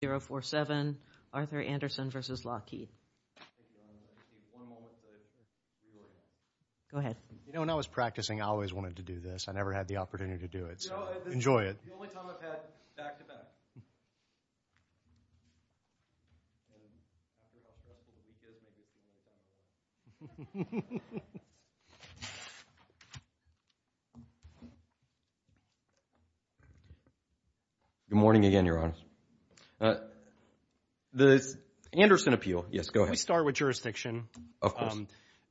047 Arthur Anderson v. Lockheed Go ahead. You know, when I was practicing, I always wanted to do this. I never had the opportunity to do it, so enjoy it. It's the only time I've had back-to-back. Good morning again, Your Honor. The Anderson appeal. Yes, go ahead. Can we start with jurisdiction? Of course.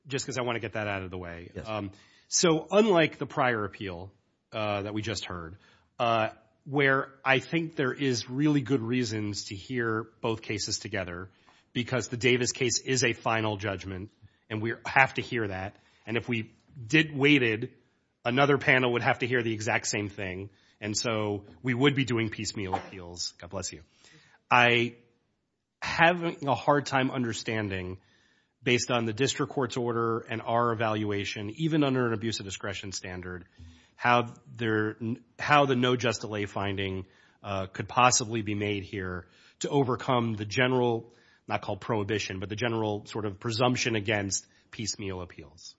Just because I want to get that out of the way. Yes. So, unlike the prior appeal that we just heard, where I think there is really good reasons to hear both cases together, because the Davis case is a final judgment, and we have to hear that. And if we waited, another panel would have to hear the exact same thing. And so, we would be doing piecemeal appeals, God bless you. I have a hard time understanding, based on the district court's order and our evaluation, even under an abuse of discretion standard, how the no just delay finding could possibly be made here to overcome the general, not called prohibition, but the general sort of presumption against piecemeal appeals.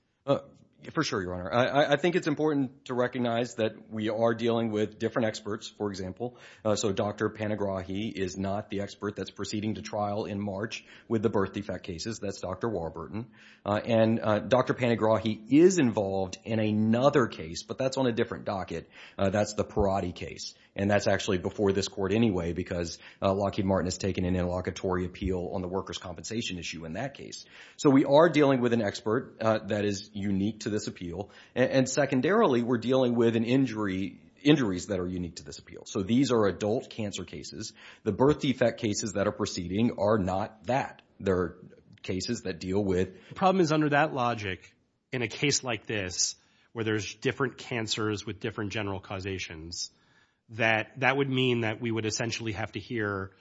For sure, Your Honor. I think it's important to recognize that we are dealing with different experts, for example. So Dr. Panagrahi is not the expert that's proceeding to trial in March with the birth defect cases. That's Dr. Warburton. And Dr. Panagrahi is involved in another case, but that's on a different docket. That's the Perotti case. And that's actually before this court anyway, because Lockheed Martin has taken an interlocutory appeal on the workers' compensation issue in that case. So we are dealing with an expert that is unique to this appeal. And secondarily, we're dealing with an injury, injuries that are unique to this appeal. So these are adult cancer cases. The birth defect cases that are proceeding are not that. They're cases that deal with... The problem is under that logic, in a case like this, where there's different cancers with different general causations, that would mean that we would essentially have to hear...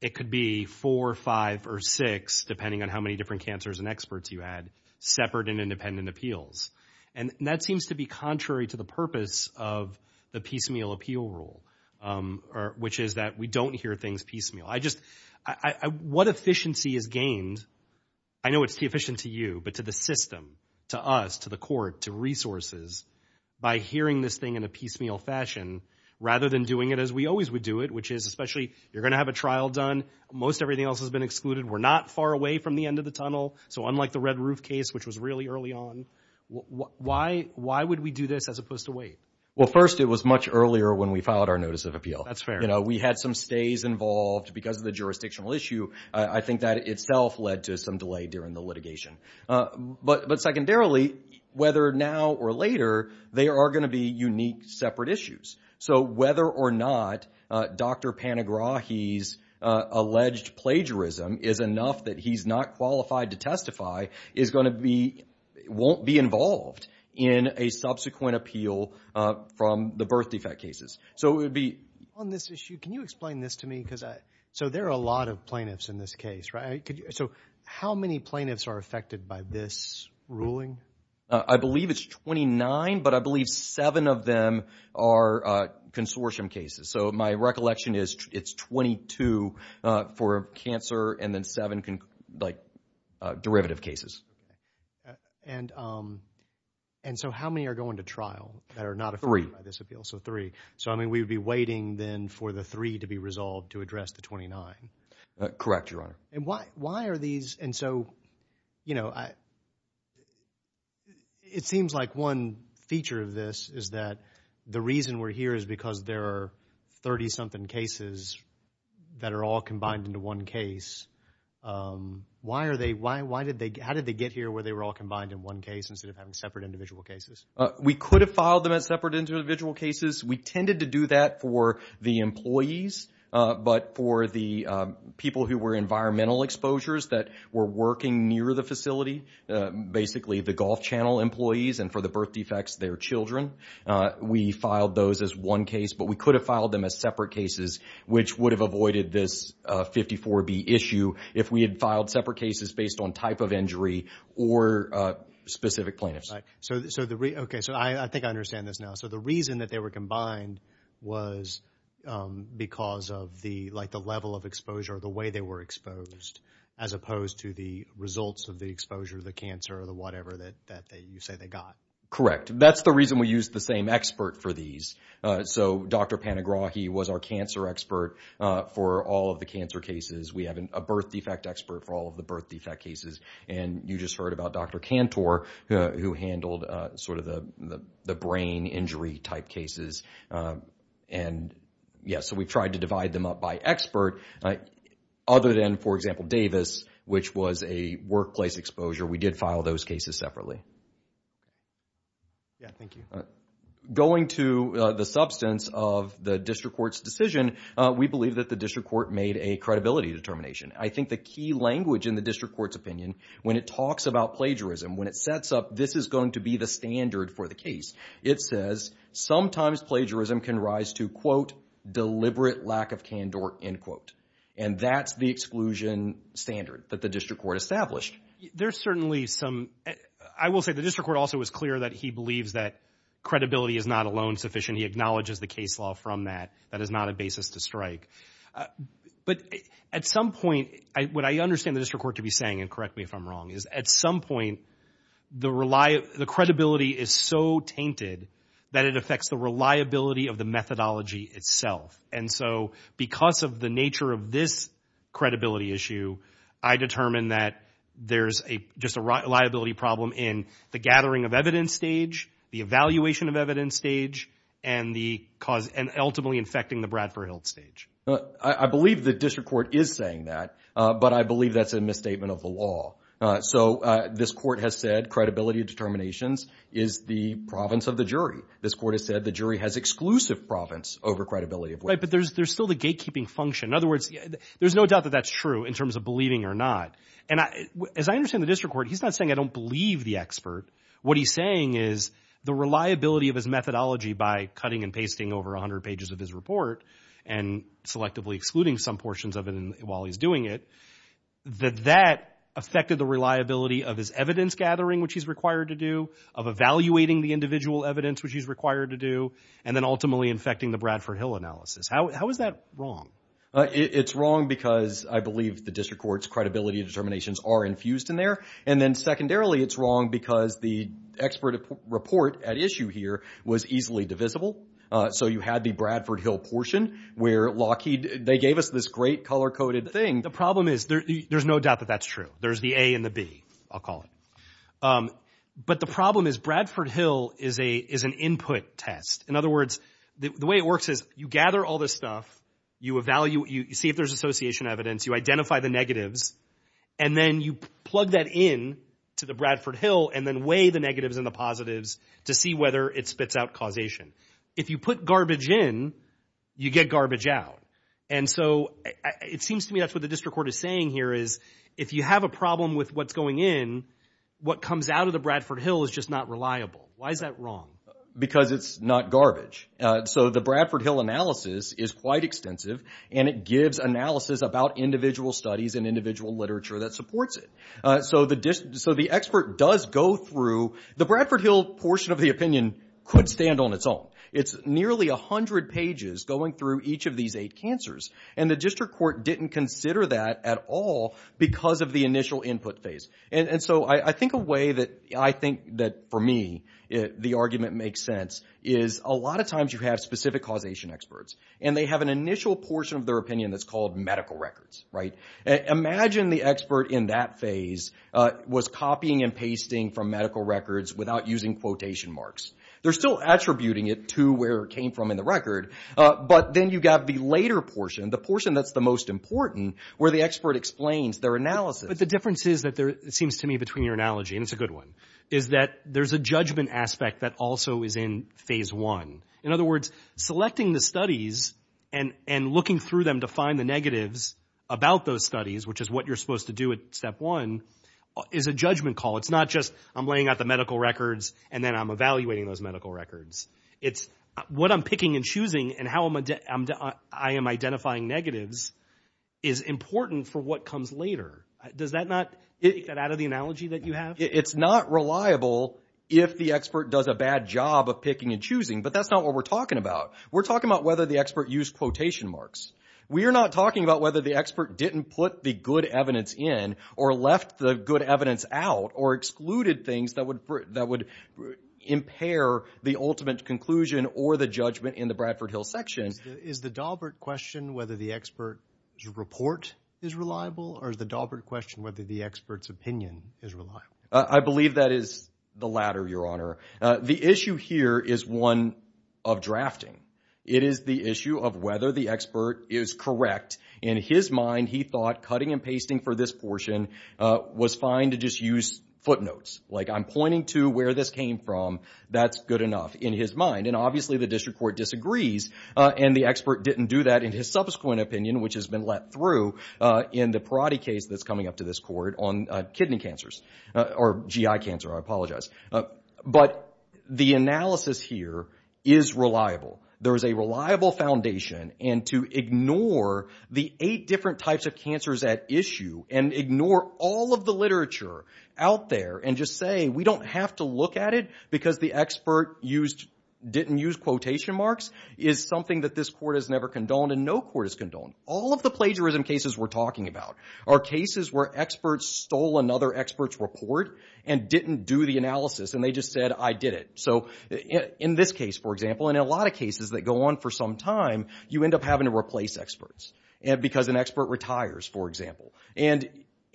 It could be four, five, or six, depending on how many different cancers and experts you had, separate and independent appeals. And that seems to be contrary to the purpose of the piecemeal appeal rule, which is that we don't hear things piecemeal. What efficiency is gained... I know it's inefficient to you, but to the system, to us, to the court, to resources, by hearing this thing in a piecemeal fashion, rather than doing it as we always would do it, which is especially, you're going to have a trial done, most everything else has been excluded, we're not far away from the end of the tunnel, so unlike the red roof case, which was really early on, why would we do this as opposed to wait? Well, first, it was much earlier when we filed our notice of appeal. That's fair. We had some stays involved because of the jurisdictional issue. I think that itself led to some delay during the litigation. But secondarily, whether now or later, there are going to be unique separate issues. So whether or not Dr. Panagrahi's alleged plagiarism is enough that he's not qualified to testify won't be involved in a subsequent appeal from the birth defect cases. So it would be... On this issue, can you explain this to me? So there are a lot of plaintiffs in this case, right? So how many plaintiffs are affected by this ruling? I believe it's 29, but I believe seven of them are consortium cases. So my recollection is it's 22 for cancer and then seven like derivative cases. And so how many are going to trial that are not affected by this appeal? So three. So I mean, we'd be waiting then for the three to be resolved to address the 29. Correct, Your Honor. And why are these... And so, you know, it seems like one feature of this is that the reason we're here is because there are 30-something cases that are all combined into one case. Why are they... Why did they... How did they get here where they were all combined in one case instead of having separate individual cases? We could have filed them as separate individual cases. We tended to do that for the employees, but for the people who were environmental exposures that were working near the facility, basically the Gulf Channel employees and for the birth defects, their children. We filed those as one case, but we could have filed them as separate cases, which would have avoided this 54B issue if we had filed separate cases based on type of injury or specific plaintiffs. Okay. So I think I understand this now. So the reason that they were combined was because of the, like, the level of exposure or the way they were exposed as opposed to the results of the exposure, the cancer or the whatever that you say they got. Correct. That's the reason we used the same expert for these. So Dr. Panagrahi was our cancer expert for all of the cancer cases. We have a birth defect expert for all of the birth defect cases. And you just heard about Dr. Cantor who handled sort of the brain injury type cases. And yeah, so we've tried to divide them up by expert other than, for example, Davis, which was a workplace exposure. We did file those cases separately. Yeah, thank you. Going to the substance of the district court's decision, we believe that the district court made a credibility determination. I think the key language in the district court's opinion when it talks about plagiarism, when it sets up this is going to be the standard for the case, it says sometimes plagiarism can rise to, quote, deliberate lack of candor, end quote. And that's the exclusion standard that the district court established. There's certainly some, I will say the district court also was clear that he believes that credibility is not alone sufficient. He acknowledges the case law from that. That is not a basis to strike. But at some point, what I understand the district court to be saying, and correct me if I'm wrong, is at some point, the credibility is so tainted that it affects the reliability of the methodology itself. And so because of the nature of this credibility issue, I determine that there's just a liability problem in the gathering of evidence stage, the evaluation of evidence stage, and ultimately infecting the Bradford Hiltz stage. I believe the district court is saying that. But I believe that's a misstatement of the law. So this court has said credibility of determinations is the province of the jury. This court has said the jury has exclusive province over credibility. Right. But there's still the gatekeeping function. In other words, there's no doubt that that's true in terms of believing or not. And as I understand the district court, he's not saying I don't believe the expert. What he's saying is the reliability of his methodology by cutting and pasting over 100 pages of his report and selectively excluding some portions of it while he's doing it, that that affected the reliability of his evidence gathering, which he's required to do, of evaluating the individual evidence, which he's required to do, and then ultimately infecting the Bradford Hill analysis. How is that wrong? It's wrong because I believe the district court's credibility determinations are infused in there. And then secondarily, it's wrong because the expert report at issue here was easily divisible. So you had the Bradford Hill portion where Lockheed, they gave us this great color coded thing. The problem is there's no doubt that that's true. There's the A and the B, I'll call it. But the problem is Bradford Hill is an input test. In other words, the way it works is you gather all this stuff, you evaluate, you see if there's association evidence, you identify the negatives, and then you plug that in to the Bradford Hill and then weigh the negatives and the positives to see whether it spits out causation. If you put garbage in, you get garbage out. And so it seems to me that's what the district court is saying here is if you have a problem with what's going in, what comes out of the Bradford Hill is just not reliable. Why is that wrong? Because it's not garbage. So the Bradford Hill analysis is quite extensive and it gives analysis about individual studies and individual literature that supports it. So the expert does go through, the Bradford Hill portion of the opinion could stand on its own. It's nearly 100 pages going through each of these eight cancers. And the district court didn't consider that at all because of the initial input phase. And so I think a way that, I think that for me, the argument makes sense is a lot of times you have specific causation experts. And they have an initial portion of their opinion that's called medical records. Imagine the expert in that phase was copying and pasting from medical records without using quotation marks. They're still attributing it to where it came from in the record. But then you got the later portion, the portion that's the most important, where the expert explains their analysis. But the difference is that there, it seems to me between your analogy, and it's a good one, is that there's a judgment aspect that also is in phase one. In other words, selecting the studies and looking through them to find the negatives about those studies, which is what you're supposed to do at step one, is a judgment call. It's not just I'm laying out the medical records and then I'm evaluating those medical records. It's what I'm picking and choosing and how I am identifying negatives is important for what comes later. Does that not, is that out of the analogy that you have? It's not reliable if the expert does a bad job of picking and choosing, but that's not what we're talking about. We're talking about whether the expert used quotation marks. We are not talking about whether the expert didn't put the good evidence in or left the evidence out or excluded things that would impair the ultimate conclusion or the judgment in the Bradford Hill section. Is the Daubert question whether the expert's report is reliable or is the Daubert question whether the expert's opinion is reliable? I believe that is the latter, your honor. The issue here is one of drafting. It is the issue of whether the expert is correct. In his mind, he thought cutting and pasting for this portion was fine to just use footnotes. Like I'm pointing to where this came from. That's good enough in his mind and obviously the district court disagrees and the expert didn't do that in his subsequent opinion, which has been let through in the parotty case that's coming up to this court on kidney cancers or GI cancer. I apologize, but the analysis here is reliable. There is a reliable foundation and to ignore the eight different types of cancers at issue and ignore all of the literature out there and just say, we don't have to look at it because the expert didn't use quotation marks is something that this court has never condoned and no court has condoned. All of the plagiarism cases we're talking about are cases where experts stole another expert's report and didn't do the analysis and they just said, I did it. In this case, for example, and in a lot of cases that go on for some time, you end up having to replace experts because an expert retires, for example.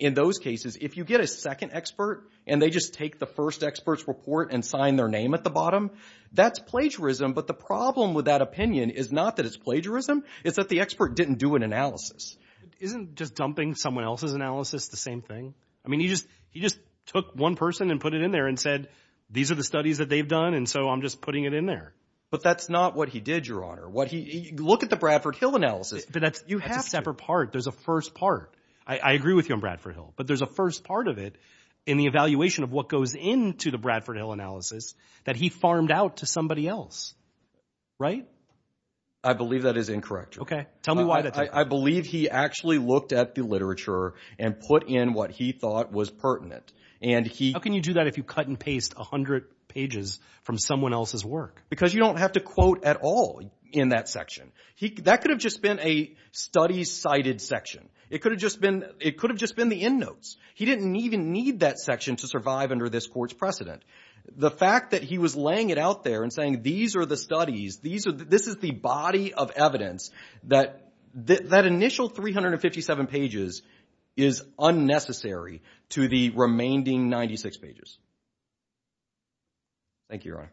In those cases, if you get a second expert and they just take the first expert's report and sign their name at the bottom, that's plagiarism, but the problem with that opinion is not that it's plagiarism, it's that the expert didn't do an analysis. It isn't just dumping someone else's analysis, the same thing. He just took one person and put it in there and said, these are the studies that they've done, and so I'm just putting it in there. But that's not what he did, Your Honor. Look at the Bradford Hill analysis. But that's a separate part. There's a first part. I agree with you on Bradford Hill. But there's a first part of it in the evaluation of what goes into the Bradford Hill analysis that he farmed out to somebody else, right? I believe that is incorrect, Your Honor. OK. Tell me why that's incorrect. I believe he actually looked at the literature and put in what he thought was pertinent. How can you do that if you cut and paste 100 pages from someone else's work? Because you don't have to quote at all in that section. That could have just been a study cited section. It could have just been the end notes. He didn't even need that section to survive under this court's precedent. The fact that he was laying it out there and saying, these are the studies, this is the body of evidence, that initial 357 pages is unnecessary to the remaining 96 pages. Thank you, Your Honor.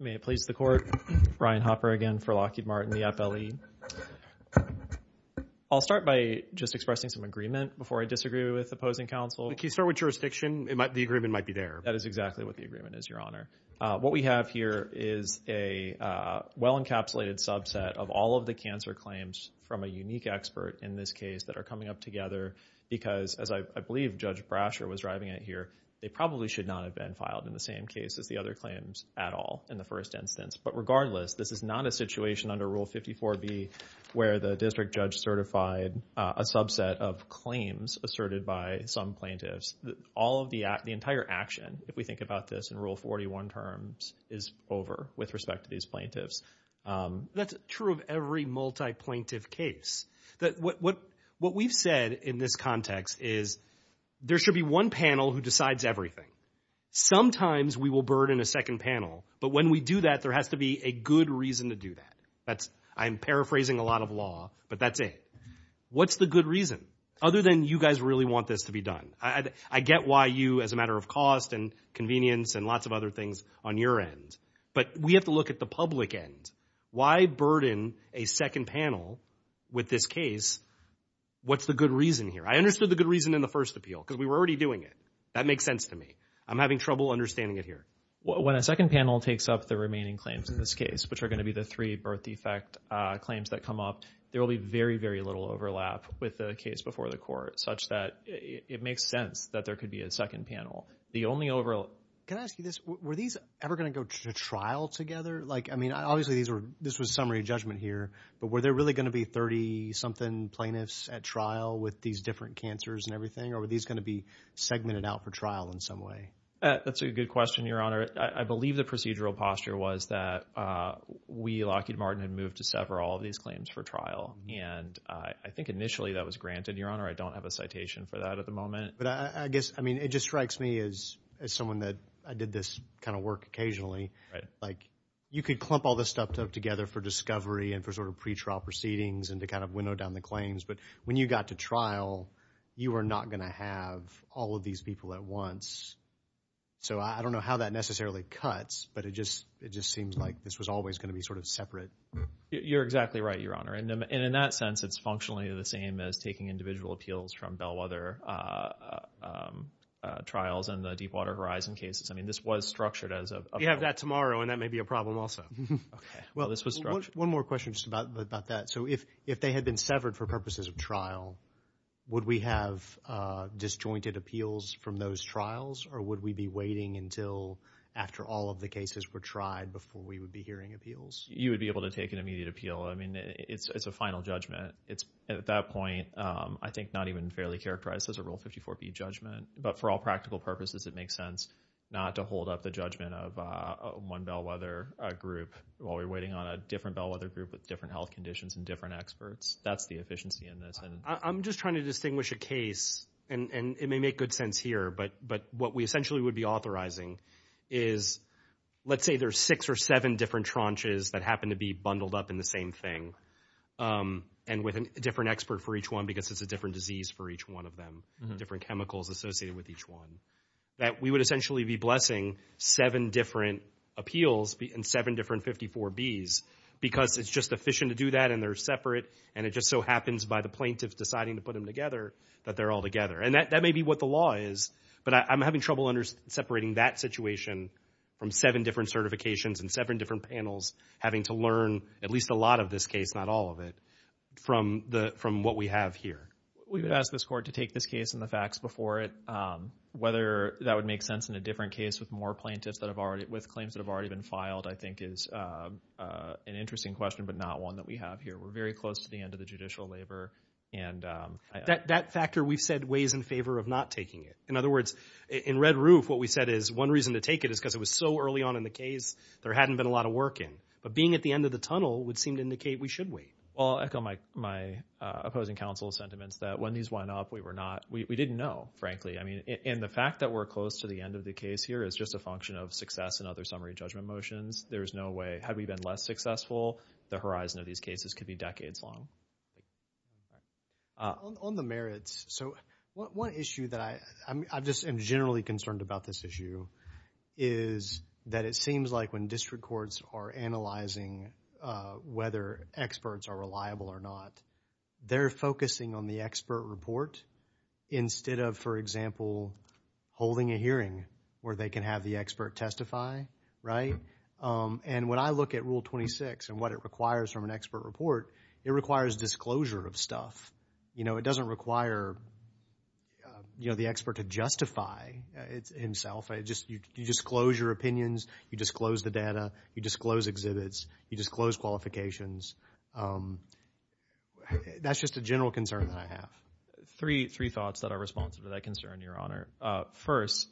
May it please the Court. Ryan Hopper again for Lockheed Martin, the FLE. I'll start by just expressing some agreement before I disagree with opposing counsel. If you start with jurisdiction, the agreement might be there. That is exactly what the agreement is, Your Honor. What we have here is a well-encapsulated subset of all of the cancer claims from a unique expert in this case that are coming up together. Because as I believe Judge Brasher was driving it here, they probably should not have been filed in the same case as the other claims at all in the first instance. But regardless, this is not a situation under Rule 54B where the district judge certified a subset of claims asserted by some plaintiffs. All of the entire action, if we think about this in Rule 41 terms, is over with respect to these plaintiffs. That's true of every multi-plaintiff case. That what we've said in this context is, there should be one panel who decides everything. Sometimes we will burden a second panel. But when we do that, there has to be a good reason to do that. I'm paraphrasing a lot of law, but that's it. What's the good reason? Other than you guys really want this to be done. I get why you, as a matter of cost and convenience and lots of other things on your end. But we have to look at the public end. Why burden a second panel with this case? What's the good reason here? I understood the good reason in the first appeal, because we were already doing it. That makes sense to me. I'm having trouble understanding it here. When a second panel takes up the remaining claims in this case, which are going to be the three birth defect claims that come up, there will be very, very little overlap with the case before the court, such that it makes sense that there could be a second panel. The only overall... Can I ask you this? Were these ever going to go to trial together? Obviously, this was summary judgment here. But were there really going to be 30-something plaintiffs at trial with these different cancers and everything? Or were these going to be segmented out for trial in some way? That's a good question, Your Honor. I believe the procedural posture was that we, Lockheed Martin, had moved to sever all of these claims for trial. And I think initially that was granted. Your Honor, I don't have a citation for that at the moment. But I guess, I mean, it just strikes me as someone that... I did this kind of work occasionally. You could clump all this stuff together for discovery and for sort of pretrial proceedings and to kind of winnow down the claims. But when you got to trial, you were not going to have all of these people at once. So I don't know how that necessarily cuts. But it just seems like this was always going to be sort of separate. You're exactly right, Your Honor. And in that sense, it's functionally the same as taking individual appeals from Bellwether trials and the Deepwater Horizon cases. I mean, this was structured as a... We have that tomorrow. And that may be a problem also. Well, this was... One more question just about that. So if they had been severed for purposes of trial, would we have disjointed appeals from those trials? Or would we be waiting until after all of the cases were tried before we would be hearing appeals? You would be able to take an immediate appeal. I mean, it's a final judgment. It's at that point, I think, not even fairly characterized as a Rule 54B judgment. But for all practical purposes, it makes sense not to hold up the judgment of one Bellwether group while we're waiting on a different Bellwether group with different health conditions and different experts. That's the efficiency in this. I'm just trying to distinguish a case. And it may make good sense here. But what we essentially would be authorizing is, let's say there's six or seven different tranches that happen to be bundled up in the same thing. And with a different expert for each one because it's a different disease for each one of them. Different chemicals associated with each one. That we would essentially be blessing seven different appeals and seven different 54Bs because it's just efficient to do that and they're separate. And it just so happens by the plaintiff deciding to put them together that they're all together. And that may be what the law is. But I'm having trouble separating that situation from seven different certifications and seven different panels having to learn at least a lot of this case, not all of it, from what we have here. We would ask this court to take this case and the facts before it. Whether that would make sense in a different case with more plaintiffs that have already, with claims that have already been filed, I think is an interesting question, but not one that we have here. We're very close to the end of the judicial labor. And... That factor, we've said, weighs in favor of not taking it. In other words, in Red Roof, what we said is, one reason to take it is because it was so early on in the case there hadn't been a lot of work in. But being at the end of the tunnel would seem to indicate we should wait. Well, I'll echo my opposing counsel's sentiments that when these went up, we were not, we didn't know, frankly. I mean, and the fact that we're close to the end of the case here is just a function of success and other summary judgment motions. There's no way, had we been less successful, the horizon of these cases could be decades long. On the merits, so one issue that I, I just am generally concerned about this issue is that it seems like when district courts are analyzing whether experts are reliable or not, they're focusing on the expert report instead of, for example, holding a hearing where they can have the expert testify, right? And when I look at Rule 26 and what it requires from an expert report, it requires disclosure of stuff. You know, it doesn't require, you know, the expert to justify himself. I just, you disclose your opinions, you disclose the data, you disclose exhibits, you disclose qualifications. That's just a general concern that I have. Three, three thoughts that are responsive to that concern, Your Honor. First,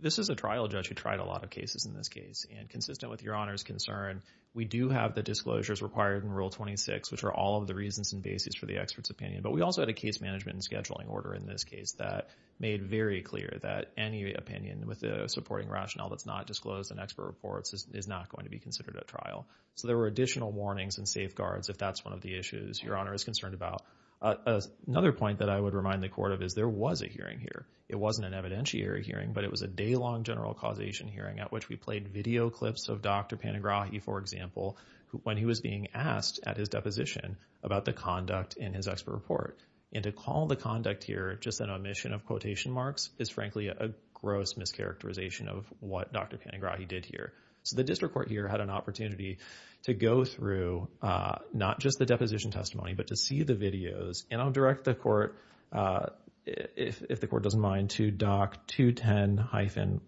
this is a trial judge who tried a lot of cases in this case. And consistent with Your Honor's concern, we do have the disclosures required in Rule 26, which are all of the reasons and basis for the expert's opinion. But we also had a case management and scheduling order in this case that made very clear that any opinion with a supporting rationale that's not disclosed in expert reports is not going to be considered a trial. So there were additional warnings and safeguards if that's one of the issues Your Honor is concerned about. Another point that I would remind the court of is there was a hearing here. It wasn't an evidentiary hearing, but it was a day-long general causation hearing at which we played video clips of Dr. Panigrahi, for example, when he was being asked at his deposition about the conduct in his expert report. And to call the conduct here just an omission of quotation marks is frankly a gross mischaracterization of what Dr. Panigrahi did here. So the district court here had an opportunity to go through not just the deposition testimony, but to see the videos. And I'll direct the court, if the court doesn't mind, to Doc 210-1,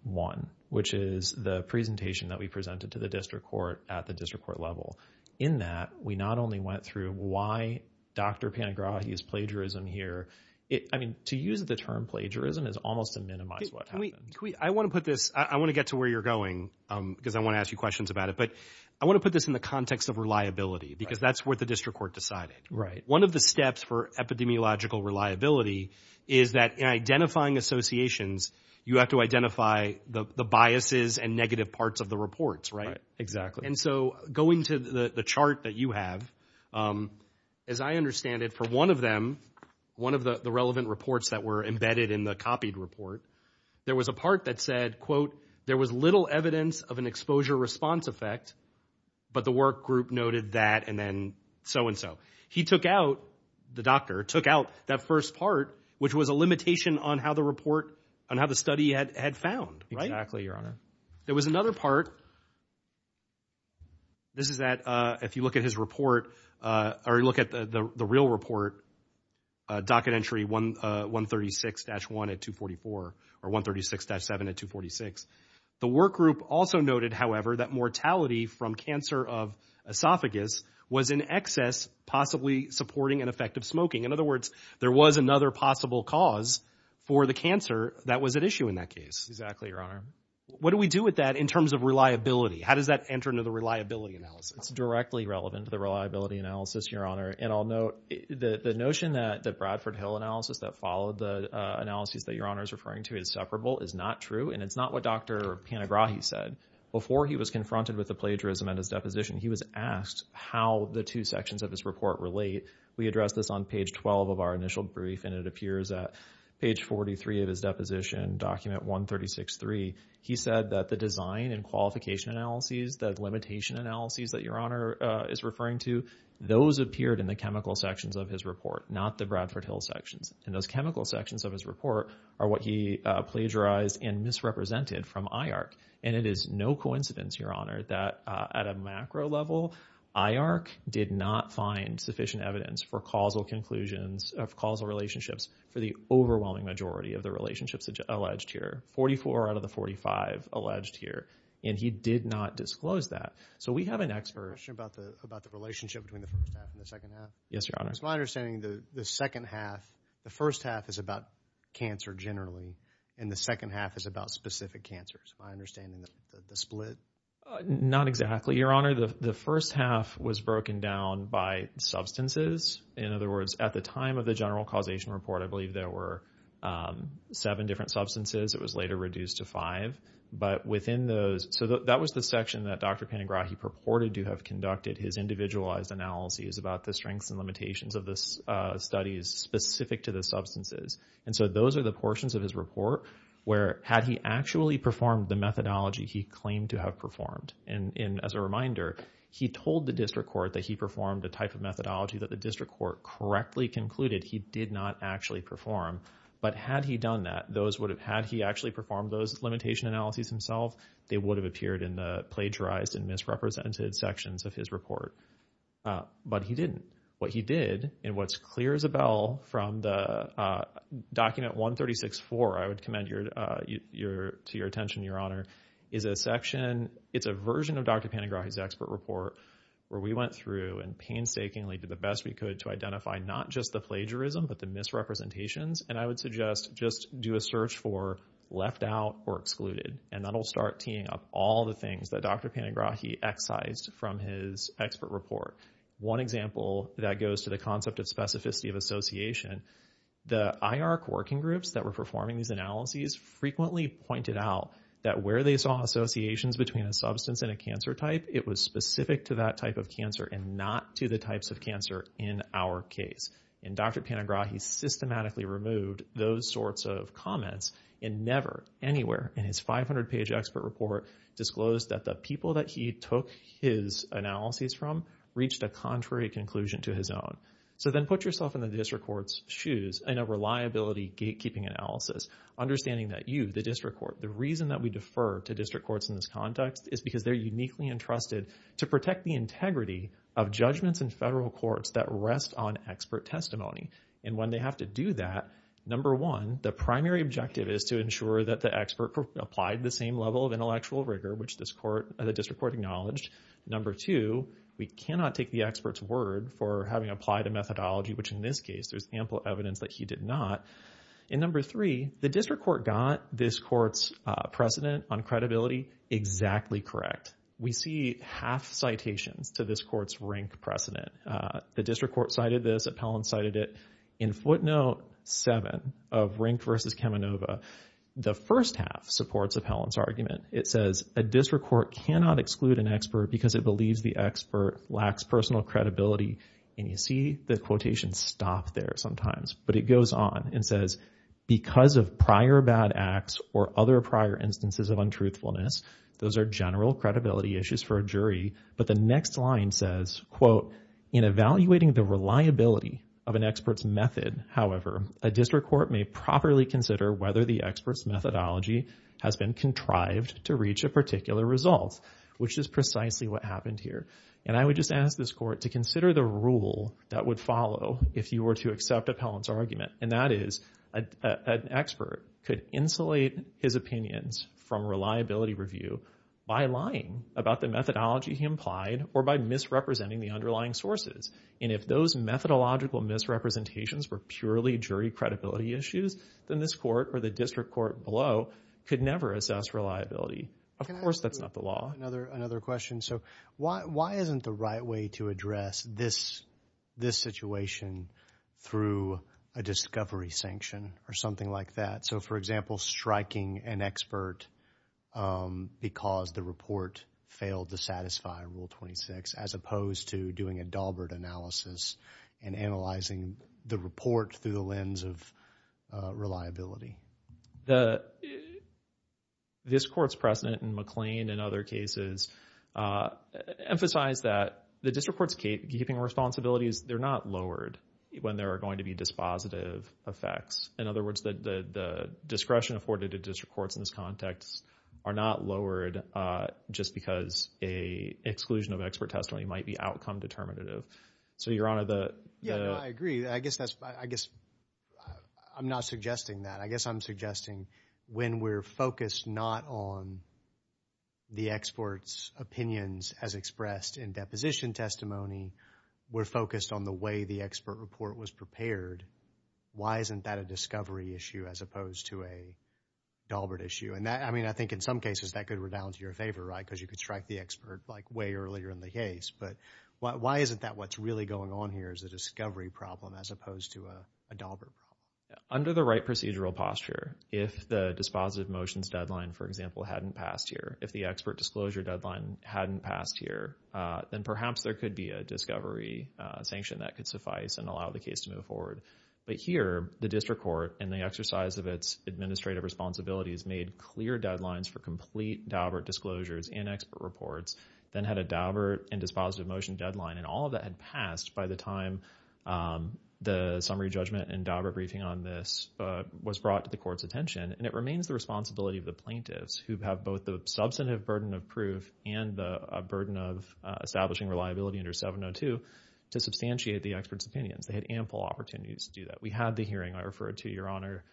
which is the presentation that we presented to the district court at the district court level. In that, we not only went through why Dr. Panigrahi's plagiarism here. I mean, to use the term plagiarism is almost to minimize what happened. I want to put this, I want to get to where you're going because I want to ask you questions about it. But I want to put this in the context of reliability because that's what the district court decided. Right. One of the steps for epidemiological reliability is that in identifying associations, you have to identify the biases and negative parts of the reports, right? Right, exactly. And so going to the chart that you have, as I understand it, for one of them, one of the relevant reports that were embedded in the copied report, there was a part that said, there was little evidence of an exposure response effect, but the work group noted that and then so-and-so. He took out, the doctor, took out that first part, which was a limitation on how the report, on how the study had found, right? Exactly, Your Honor. There was another part. This is that, if you look at his report or look at the real report, docket entry 136-1 at 244 or 136-7 at 246. The work group also noted, however, that mortality from cancer of esophagus was in excess, possibly supporting an effect of smoking. In other words, there was another possible cause for the cancer that was at issue in that case. Exactly, Your Honor. What do we do with that in terms of reliability? How does that enter into the reliability analysis? It's directly relevant to the reliability analysis, Your Honor. And I'll note the notion that the Bradford Hill analysis that followed the analysis that Your Honor is referring to is separable, is not true. And it's not what Dr. Panagrahi said. Before he was confronted with the plagiarism and his deposition, he was asked how the two sections of this report relate. We addressed this on page 12 of our initial brief and it appears at page 43 of his deposition, document 136-3. He said that the design and qualification analyses, the limitation analyses that Your Honor is referring to, those appeared in the chemical sections of his report, not the Bradford Hill sections. And those chemical sections of his report are what he plagiarized and misrepresented from IARC. And it is no coincidence, Your Honor, that at a macro level, IARC did not find sufficient evidence for causal conclusions of causal relationships for the overwhelming majority of the relationships alleged here. 44 out of the 45 alleged here. And he did not disclose that. So we have an expert. I have a question about the relationship between the first half and the second half. Yes, Your Honor. It's my understanding the second half, the first half is about cancer generally and the second half is about specific cancers. Am I understanding the split? Not exactly, Your Honor. The first half was broken down by substances. In other words, at the time of the general causation report, I believe there were seven different substances. It was later reduced to five. But within those, so that was the section that Dr. Panagrahi purported to have conducted his individualized analyses about the strengths and limitations of the studies specific to the substances. And so those are the portions of his report where had he actually performed the methodology he claimed to have performed. And as a reminder, he told the district court that he performed a type of methodology that the district court correctly concluded he did not actually perform. But had he done that, had he actually performed those limitation analyses himself, they would have appeared in the plagiarized and misrepresented sections of his report. But he didn't. What he did, and what's clear as a bell from the document 136-4, I would commend to your attention, Your Honor, is a section, it's a version of Dr. Panagrahi's expert report where we went through and painstakingly did the best we could to identify not just the plagiarism, but the misrepresentations. And I would suggest just do a search for left out or excluded. And that'll start teeing up all the things that Dr. Panagrahi excised from his expert report. One example that goes to the concept of specificity of association, the IR working groups that were performing these analyses frequently pointed out that where they saw associations between a substance and a cancer type, it was specific to that type of cancer and not to the types of cancer in our case. And Dr. Panagrahi systematically removed those sorts of comments and never anywhere in his 500-page expert report disclosed that the people that he took his analyses from reached a contrary conclusion to his own. So then put yourself in the district court's shoes and a reliability gatekeeping analysis, understanding that you, the district court, the reason that we defer to district courts in this context is because they're uniquely entrusted to protect the integrity of judgments in federal courts that rest on expert testimony. And when they have to do that, number one, the primary objective is to ensure that the expert applied the same level of intellectual rigor, which this court, the district court acknowledged. Number two, we cannot take the expert's word for having applied a methodology, which in this case, there's ample evidence that he did not. And number three, the district court got this court's precedent on credibility exactly correct. We see half citations to this court's rank precedent. The district court cited this, Appellant cited it. In footnote seven of Rink versus Kamenova, the first half supports Appellant's argument. It says a district court cannot exclude an expert because it believes the expert lacks personal credibility. And you see the quotation stop there sometimes, but it goes on and says, because of prior bad acts or other prior instances of untruthfulness, those are general credibility issues for a jury. But the next line says, in evaluating the reliability of an expert's method, however, a district court may properly consider whether the expert's methodology has been contrived to reach a particular result, which is precisely what happened here. And I would just ask this court to consider the rule that would follow if you were to accept Appellant's argument. And that is an expert could insulate his opinions from reliability review by lying about the methodology he implied or by misrepresenting the underlying sources. And if those methodological misrepresentations were purely jury credibility issues, then this court or the district court below could never assess reliability. Of course, that's not the law. Another question. So why isn't the right way to address this situation through a discovery sanction or something like that? So, for example, striking an expert because the report failed to satisfy Rule 26, as opposed to doing a Daubert analysis and analyzing the report through the lens of reliability. The district court's precedent in McLean and other cases emphasize that the district court's keeping responsibilities, they're not lowered when there are going to be dispositive effects. In other words, the discretion afforded to district courts in this context are not lowered just because a exclusion of expert testimony might be outcome determinative. So, Your Honor, I agree. I guess I'm not suggesting that. I guess I'm suggesting when we're focused not on the experts' opinions as expressed in deposition testimony, we're focused on the way the expert report was prepared. Why isn't that a discovery issue as opposed to a Daubert issue? And I mean, I think in some cases that could rebound to your favor, right? Because you could strike the expert like way earlier in the case. But why isn't that what's really going on here is a discovery problem as opposed to a Daubert problem? Under the right procedural posture, if the dispositive motions deadline, for example, hadn't passed here, if the expert disclosure deadline hadn't passed here, then perhaps there could be a discovery sanction that could suffice and allow the case to move forward. But here, the district court and the exercise of its administrative responsibilities made clear deadlines for complete Daubert disclosures and expert reports, then had a Daubert and dispositive motion deadline. And all of that had passed by the time the summary judgment and Daubert briefing on this was brought to the court's attention. And it remains the responsibility of the plaintiffs who have both the substantive burden of proof and the burden of establishing reliability under 702 to substantiate the experts' opinions. They had ample opportunities to do that. We had the hearing, I referred to, Your Honor,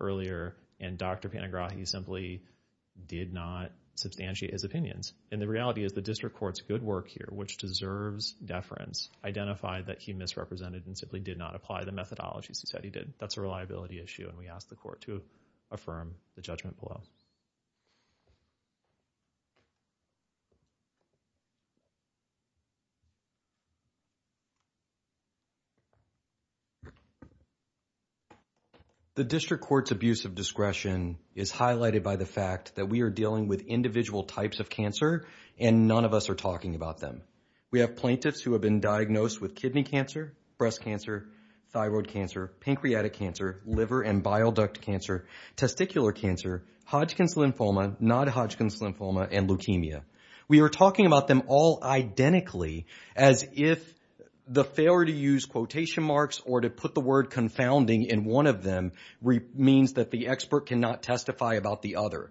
earlier and Dr. Panagrahi simply did not substantiate his opinions. And the reality is the district court's good work here, which deserves deference, identified that he misrepresented and simply did not apply the methodologies he said he did. That's a reliability issue. And we ask the court to affirm the judgment below. The district court's abuse of discretion is highlighted by the fact that we are dealing with individual types of cancer and none of us are talking about them. We have plaintiffs who have been diagnosed with kidney cancer, breast cancer, thyroid cancer, pancreatic cancer, liver and bile duct cancer, testicular cancer, Hodgkin's disease, not Hodgkin's lymphoma, and leukemia. We are talking about them all identically as if the failure to use quotation marks or to put the word confounding in one of them means that the expert cannot testify about the other.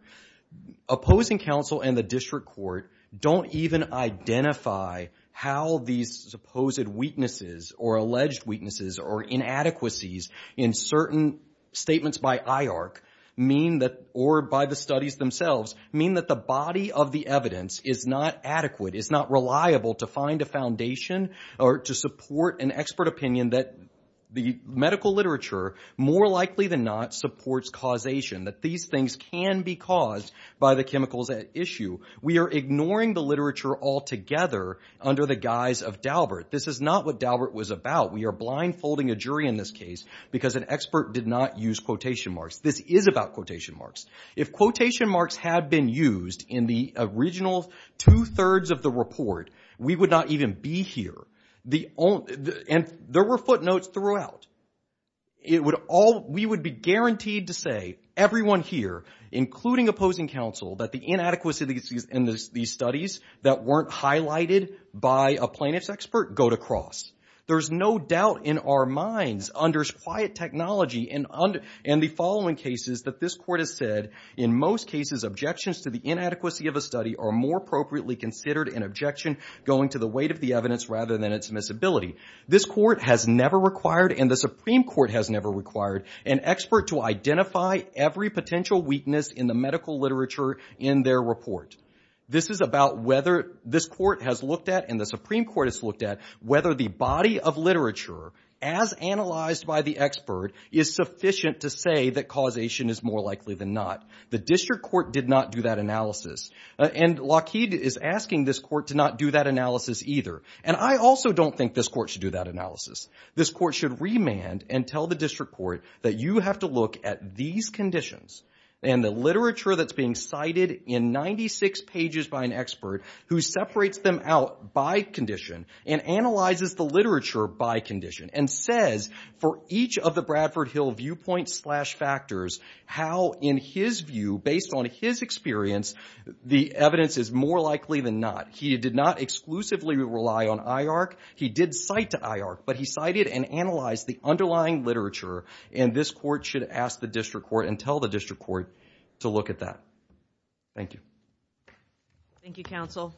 Opposing counsel and the district court don't even identify how these supposed weaknesses or alleged weaknesses or inadequacies in certain statements by IARC mean that, or by the studies themselves, mean that the body of the evidence is not adequate, is not reliable to find a foundation or to support an expert opinion that the medical literature more likely than not supports causation, that these things can be caused by the chemicals at issue. We are ignoring the literature altogether under the guise of Daubert. This is not what Daubert was about. We are blindfolding a jury in this case because an expert did not use quotation marks. This is about quotation marks. If quotation marks had been used in the original two-thirds of the report, we would not even be here. And there were footnotes throughout. We would be guaranteed to say, everyone here, including opposing counsel, that the inadequacies in these studies that weren't highlighted by a plaintiff's expert go to cross. There's no doubt in our minds under quiet technology and the following cases that this court has said, in most cases, objections to the inadequacy of a study are more appropriately considered an objection going to the weight of the evidence rather than its admissibility. This court has never required and the Supreme Court has never required an expert to identify every potential weakness in the medical literature in their report. This is about whether this court has looked at and the Supreme Court has looked at whether the body of literature, as analyzed by the expert, is sufficient to say that causation is more likely than not. The district court did not do that analysis. And Lockheed is asking this court to not do that analysis either. And I also don't think this court should do that analysis. This court should remand and tell the district court that you have to look at these conditions and the literature that's being cited in 96 pages by an expert who separates them out by condition and analyzes the literature by condition and says for each of the Bradford Hill viewpoint slash factors how in his view, based on his experience, the evidence is more likely than not. He did not exclusively rely on IARC. He did cite to IARC, but he cited and analyzed the underlying literature and this court should ask the district court and tell the district court to look at that. Thank you. Thank you, counsel.